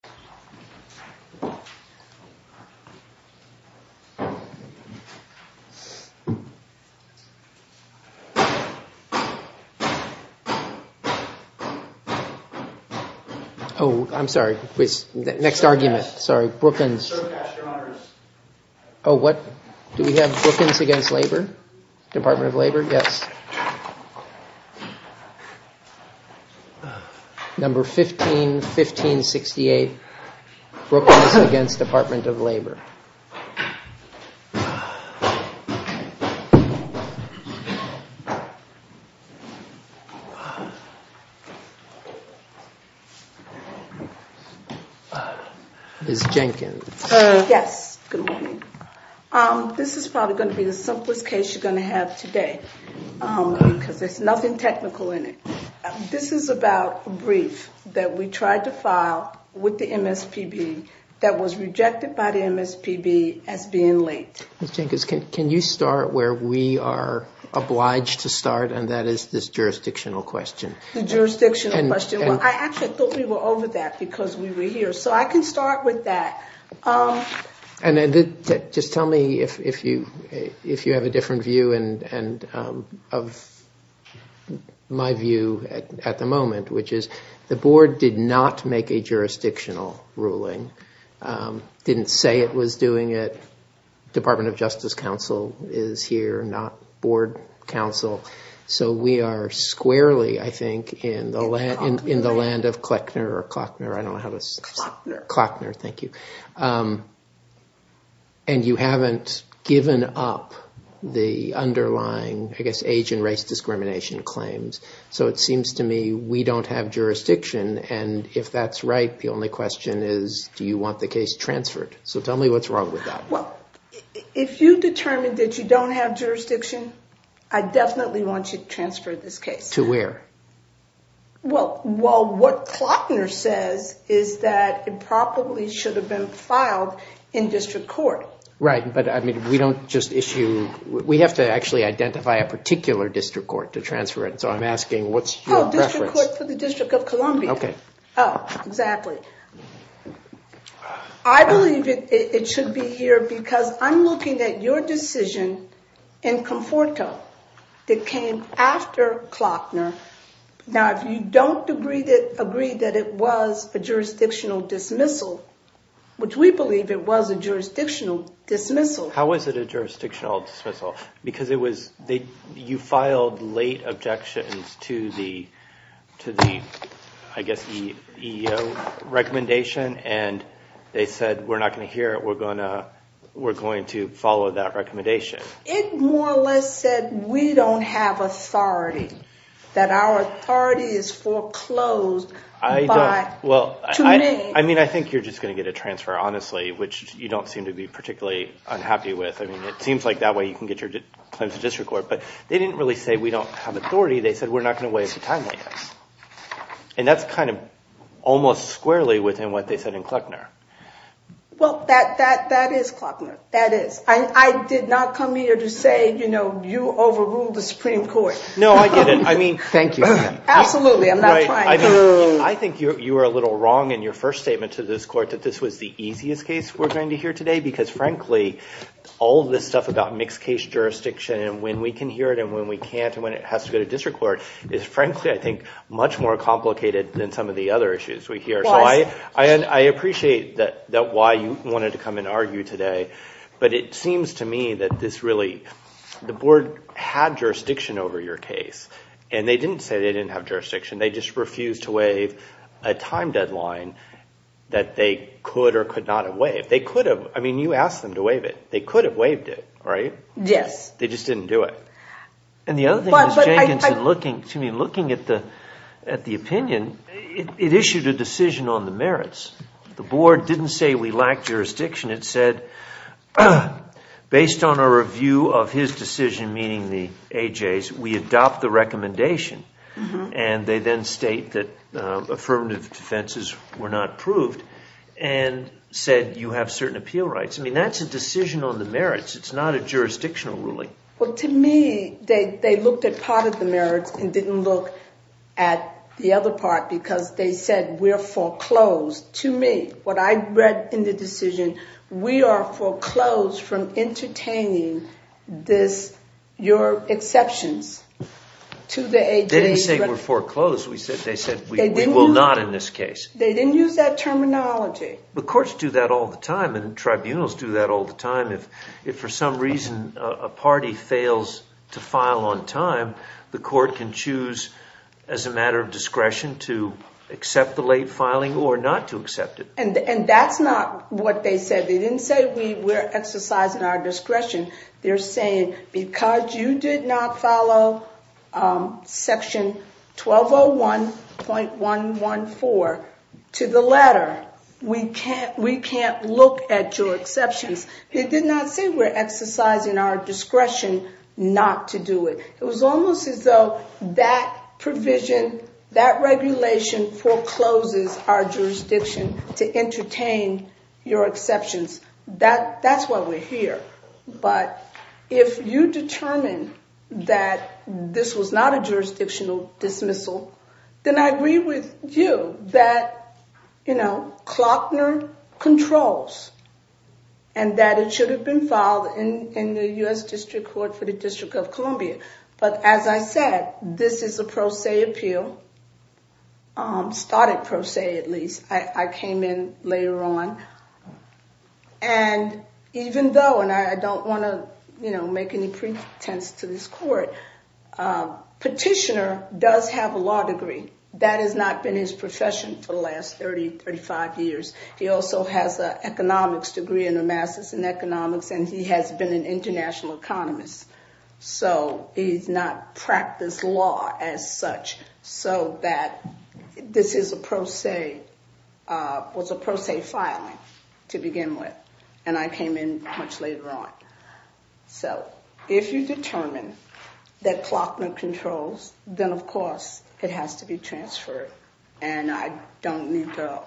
Brookens v. Labor Department of Labor, yes. Number 151568, Brookens v. Department of Labor. Ms. Jenkins. Yes, good morning. This is probably going to be the simplest case you're going to have today because there's nothing technical in it. This is about a brief that we tried to file with the MSPB that was rejected by the MSPB as being late. Ms. Jenkins, can you start where we are obliged to start, and that is this jurisdictional question. The jurisdictional question. I actually thought we were over that because we were here, so I can start with that. Just tell me if you have a different view of my view at the moment, which is the jurisdictional ruling. Didn't say it was doing it. Department of Justice counsel is here, not board counsel, so we are squarely, I think, in the land of Kleckner or Klockner. I don't know how to say it. Klockner. Klockner, thank you. And you haven't given up the underlying, I guess, age and race discrimination claims, so it seems to me we don't have jurisdiction, and if that's right, the only question is, do you want the case transferred? So tell me what's wrong with that. Well, if you determined that you don't have jurisdiction, I definitely want you to transfer this case. To where? Well, what Klockner says is that it probably should have been filed in district court. Right, but we don't just issue, we have to actually identify a Oh, exactly. I believe it should be here because I'm looking at your decision in Conforto that came after Klockner. Now, if you don't agree that it was a jurisdictional dismissal, which we believe it was a jurisdictional dismissal. How was it a jurisdictional dismissal? Because you filed late objections to the, I guess, EEO recommendation, and they said, we're not going to hear it, we're going to follow that recommendation. It more or less said we don't have authority. That our authority is foreclosed to me. I mean, I think you're just going to get a transfer, honestly, which you don't seem to be particularly unhappy with. I mean, it seems like that way you can get claims to district court, but they didn't really say we don't have authority. They said we're not going to wait for time like this. And that's kind of almost squarely within what they said in Klockner. Well, that is Klockner. That is. I did not come here to say, you know, you overruled the Supreme Court. No, I get it. I mean, thank you. Absolutely. I'm not trying to. I think you were a little wrong in your first statement to this court that this was the easiest case we're going to hear today because, frankly, all of this stuff about mixed case jurisdiction and when we can hear it and when we can't and when it has to go to district court is, frankly, I think, much more complicated than some of the other issues we hear. So I appreciate that why you wanted to come and argue today, but it seems to me that this really, the board had jurisdiction over your case, and they didn't say they didn't have jurisdiction. They just refused to waive a time deadline that they could or could not have waived. They could have. I mean, you asked them to waive it. They could have waived it, right? Yes. They just didn't do it. And the other thing is Jenkinson looking, excuse me, looking at the opinion, it issued a decision on the merits. The board didn't say we lacked jurisdiction. It said, based on a review of his decision, meaning the AJ's, we adopt the then said you have certain appeal rights. I mean, that's a decision on the merits. It's not a jurisdictional ruling. Well, to me, they looked at part of the merits and didn't look at the other part because they said we're foreclosed. To me, what I read in the decision, we are foreclosed from entertaining this, your exceptions to the AJ's. They didn't say we're foreclosed. They said we will not in this case. They didn't use that terminology. But courts do that all the time and tribunals do that all the time. If for some reason a party fails to file on time, the court can choose as a matter of discretion to accept the late filing or not to accept it. And that's not what they said. They didn't say we're exercising our discretion. They're saying because you did not follow section 1201.114 to the letter, we can't look at your exceptions. They did not say we're exercising our discretion not to do it. It was almost as though that provision, that regulation forecloses our jurisdiction to entertain your exceptions. That's why we're here. But if you determine that this was not a jurisdictional dismissal, then I agree with you that, you know, Klockner controls and that it should have been filed in the U.S. District Court for the District of Columbia. But as I said, this is a pro se appeal, started pro se at least. I came in later on. And even though, and I don't want to, you know, make any pretense to this court, Petitioner does have a law degree. That has not been his profession for the last 30, 35 years. He also has an economics degree and a master's in economics, and he has been an international economist. So he's not practiced law as such. So that this is a pro se, was a pro se filing to begin with. And I came in much later on. So if you determine that Klockner controls, then of course it has to be transferred. And I don't need to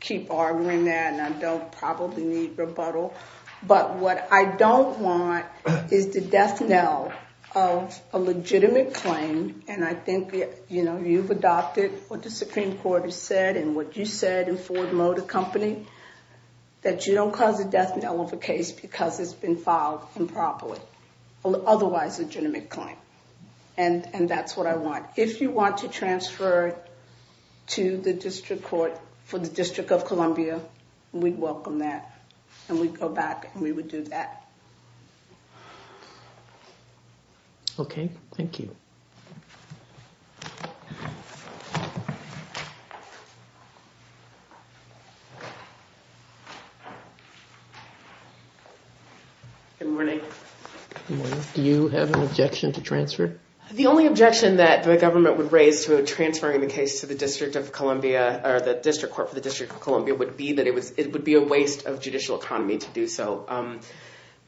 keep arguing that, and I don't probably need rebuttal. But what I don't want is the death knell of a legitimate claim. And I think, you know, you've adopted what the Supreme Court has said and what you said in Ford Motor Company, that you don't cause a death knell of a case because it's been filed improperly, otherwise a legitimate claim. And that's what I want. If you want to transfer to the district court for the District of Columbia, we'd welcome that. And we'd go back and we would do that. Okay, thank you. Good morning. Do you have an objection to transfer? The only objection that the government would raise to transferring the case to the District of Columbia or the District Court for the District of Columbia would be that it would be a waste of judicial economy to do so.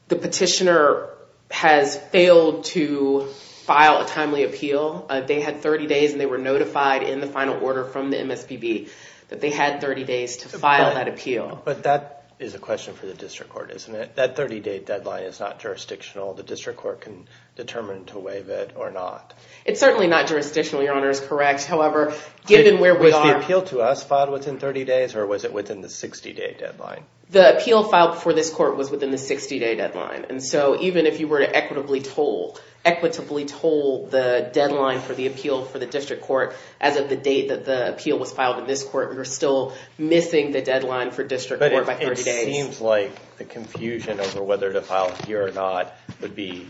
The petitioner has failed to file a timely appeal. They had 30 days and they were notified in the final order from the MSBB that they had 30 days to file that appeal. But that is a question for the District Court, isn't it? That 30 day deadline is not jurisdictional. The District Court can determine to waive it or not. It's certainly not jurisdictional, Your Honor, is correct. However, given where we are- Was the appeal to us filed within 30 days or was it within the 60 day deadline? The appeal filed for this court was within the 60 day deadline. And so even if you were to equitably toll the deadline for the appeal for the District Court, as of the date that the appeal was filed in this court, we were still missing the deadline for District Court by 30 days. It seems like the confusion over whether to file here or not would be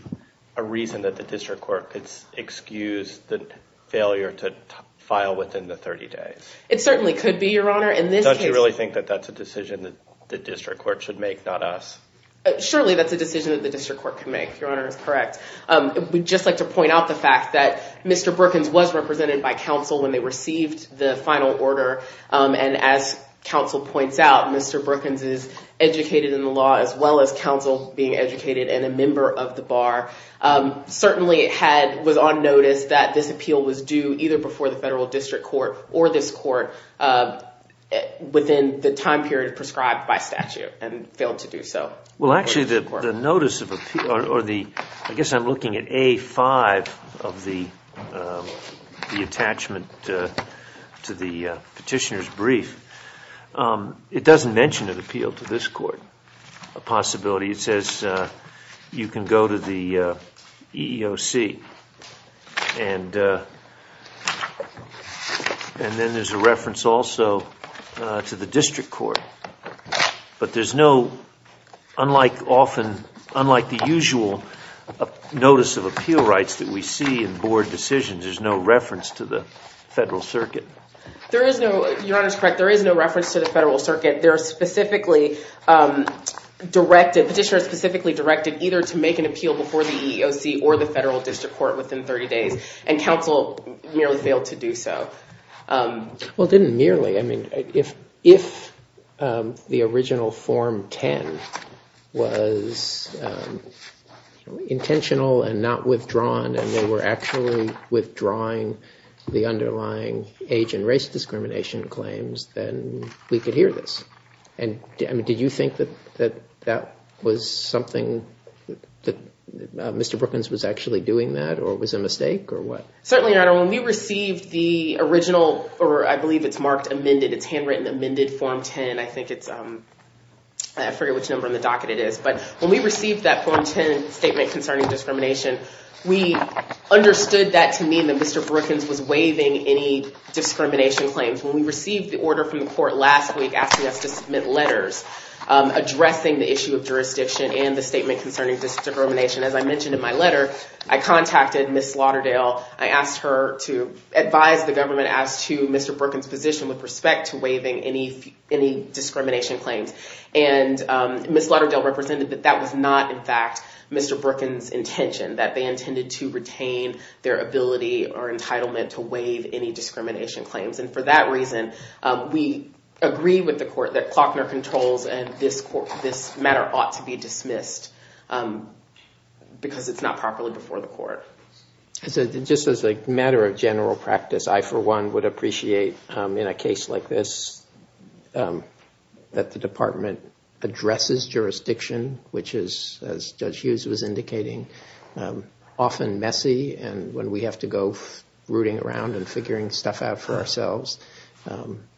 a reason that the District Court could excuse the failure to file within the 30 days. It certainly could be, Your Honor. In this case- Don't you really think that that's a decision that the District Court should make, not us? Surely that's a decision that the District Court can make, Your Honor, is correct. We'd just like to point out the fact that Mr. Brookins was represented by counsel when they received the final order. And as counsel points out, Mr. Brookins is educated in the law as well as counsel being educated and a member of the bar. Certainly it was on notice that this appeal was due either before the Federal District Court or this court within the time period prescribed by statute and failed to do so. Well, actually, the notice of appeal or the- to the petitioner's brief, it doesn't mention an appeal to this court, a possibility. It says you can go to the EEOC and then there's a reference also to the District Court. But there's no- unlike often- unlike the usual notice of appeal rights that we see in board decisions, there's no reference to the Federal Circuit. There is no- Your Honor's correct. There is no reference to the Federal Circuit. They're specifically directed- petitioners specifically directed either to make an appeal before the EEOC or the Federal District Court within 30 days. And counsel merely failed to do so. Well, it didn't merely. I mean, if the original Form 10 was intentional and not withdrawn and they were actually withdrawing the underlying age and race discrimination claims, then we could hear this. And did you think that that was something that Mr. Brookins was actually doing that or it was a mistake or what? Certainly, Your Honor. When we received the original or I believe it's marked amended, it's handwritten amended Form 10. I think it's- I forget which number on the docket it is. But when we received that Form 10 statement concerning discrimination, we understood that to mean that Mr. Brookins was waiving any discrimination claims. When we received the order from the court last week asking us to submit letters addressing the issue of jurisdiction and the statement concerning discrimination, as I mentioned in my letter, I contacted Ms. Lauderdale. I asked her to advise the government as to Mr. Brookins' position with respect to waiving any discrimination claims. And Ms. Lauderdale represented that that was not, in fact, Mr. Brookins' intention, that they intended to retain their ability or entitlement to waive any discrimination claims. And for that reason, we agree with the court that Klockner Controls and this matter ought to be dismissed because it's not properly before the court. So just as a matter of general practice, I, for one, would appreciate in a case like this that the department addresses jurisdiction, which is, as Judge Hughes was indicating, often messy. And when we have to go rooting around and figuring stuff out for ourselves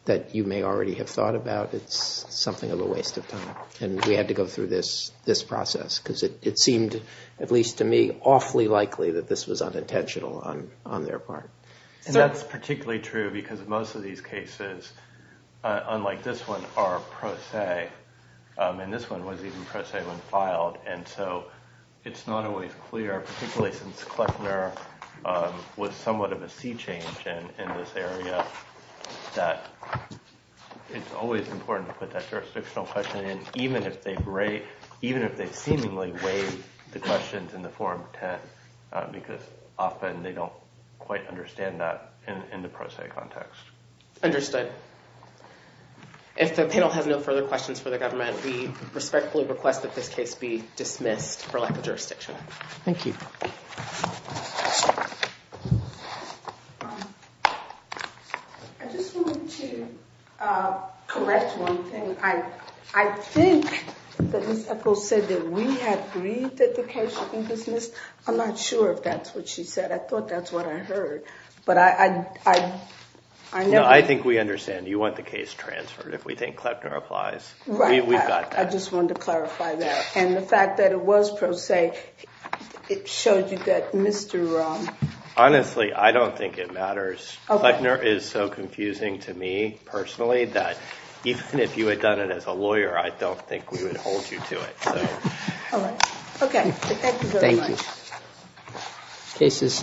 that you may already have thought about, it's something of a waste of time. And we had to go through this process because it seemed, at least to me, awfully likely that this was unintentional on their part. And that's particularly true because most of these cases, unlike this one, are pro se. And this one was even pro se when filed. And so it's not always clear, particularly since Klockner was somewhat of a sea change in this area, that it's always important to put that jurisdictional question in, even if they seemingly weigh the questions in the Form 10, because often they don't quite understand that in the pro se context. Understood. If the panel has no further questions for the government, we respectfully request that this case be dismissed for lack of jurisdiction. Thank you. I just wanted to correct one thing. I think that Ms. Ethel said that we had agreed that the case should be dismissed. I'm not sure if that's what she said. I thought that's what I heard. But I know I think we understand you want the case transferred if we think Kleppner applies. We've got that. I just wanted to clarify that. And the fact that it was pro se, it showed you that Mr. Honestly, I don't think it matters. Kleppner is so confusing to me personally that even if you had done it as a lawyer, I don't think we would hold you to it. Okay. Thank you very much. Cases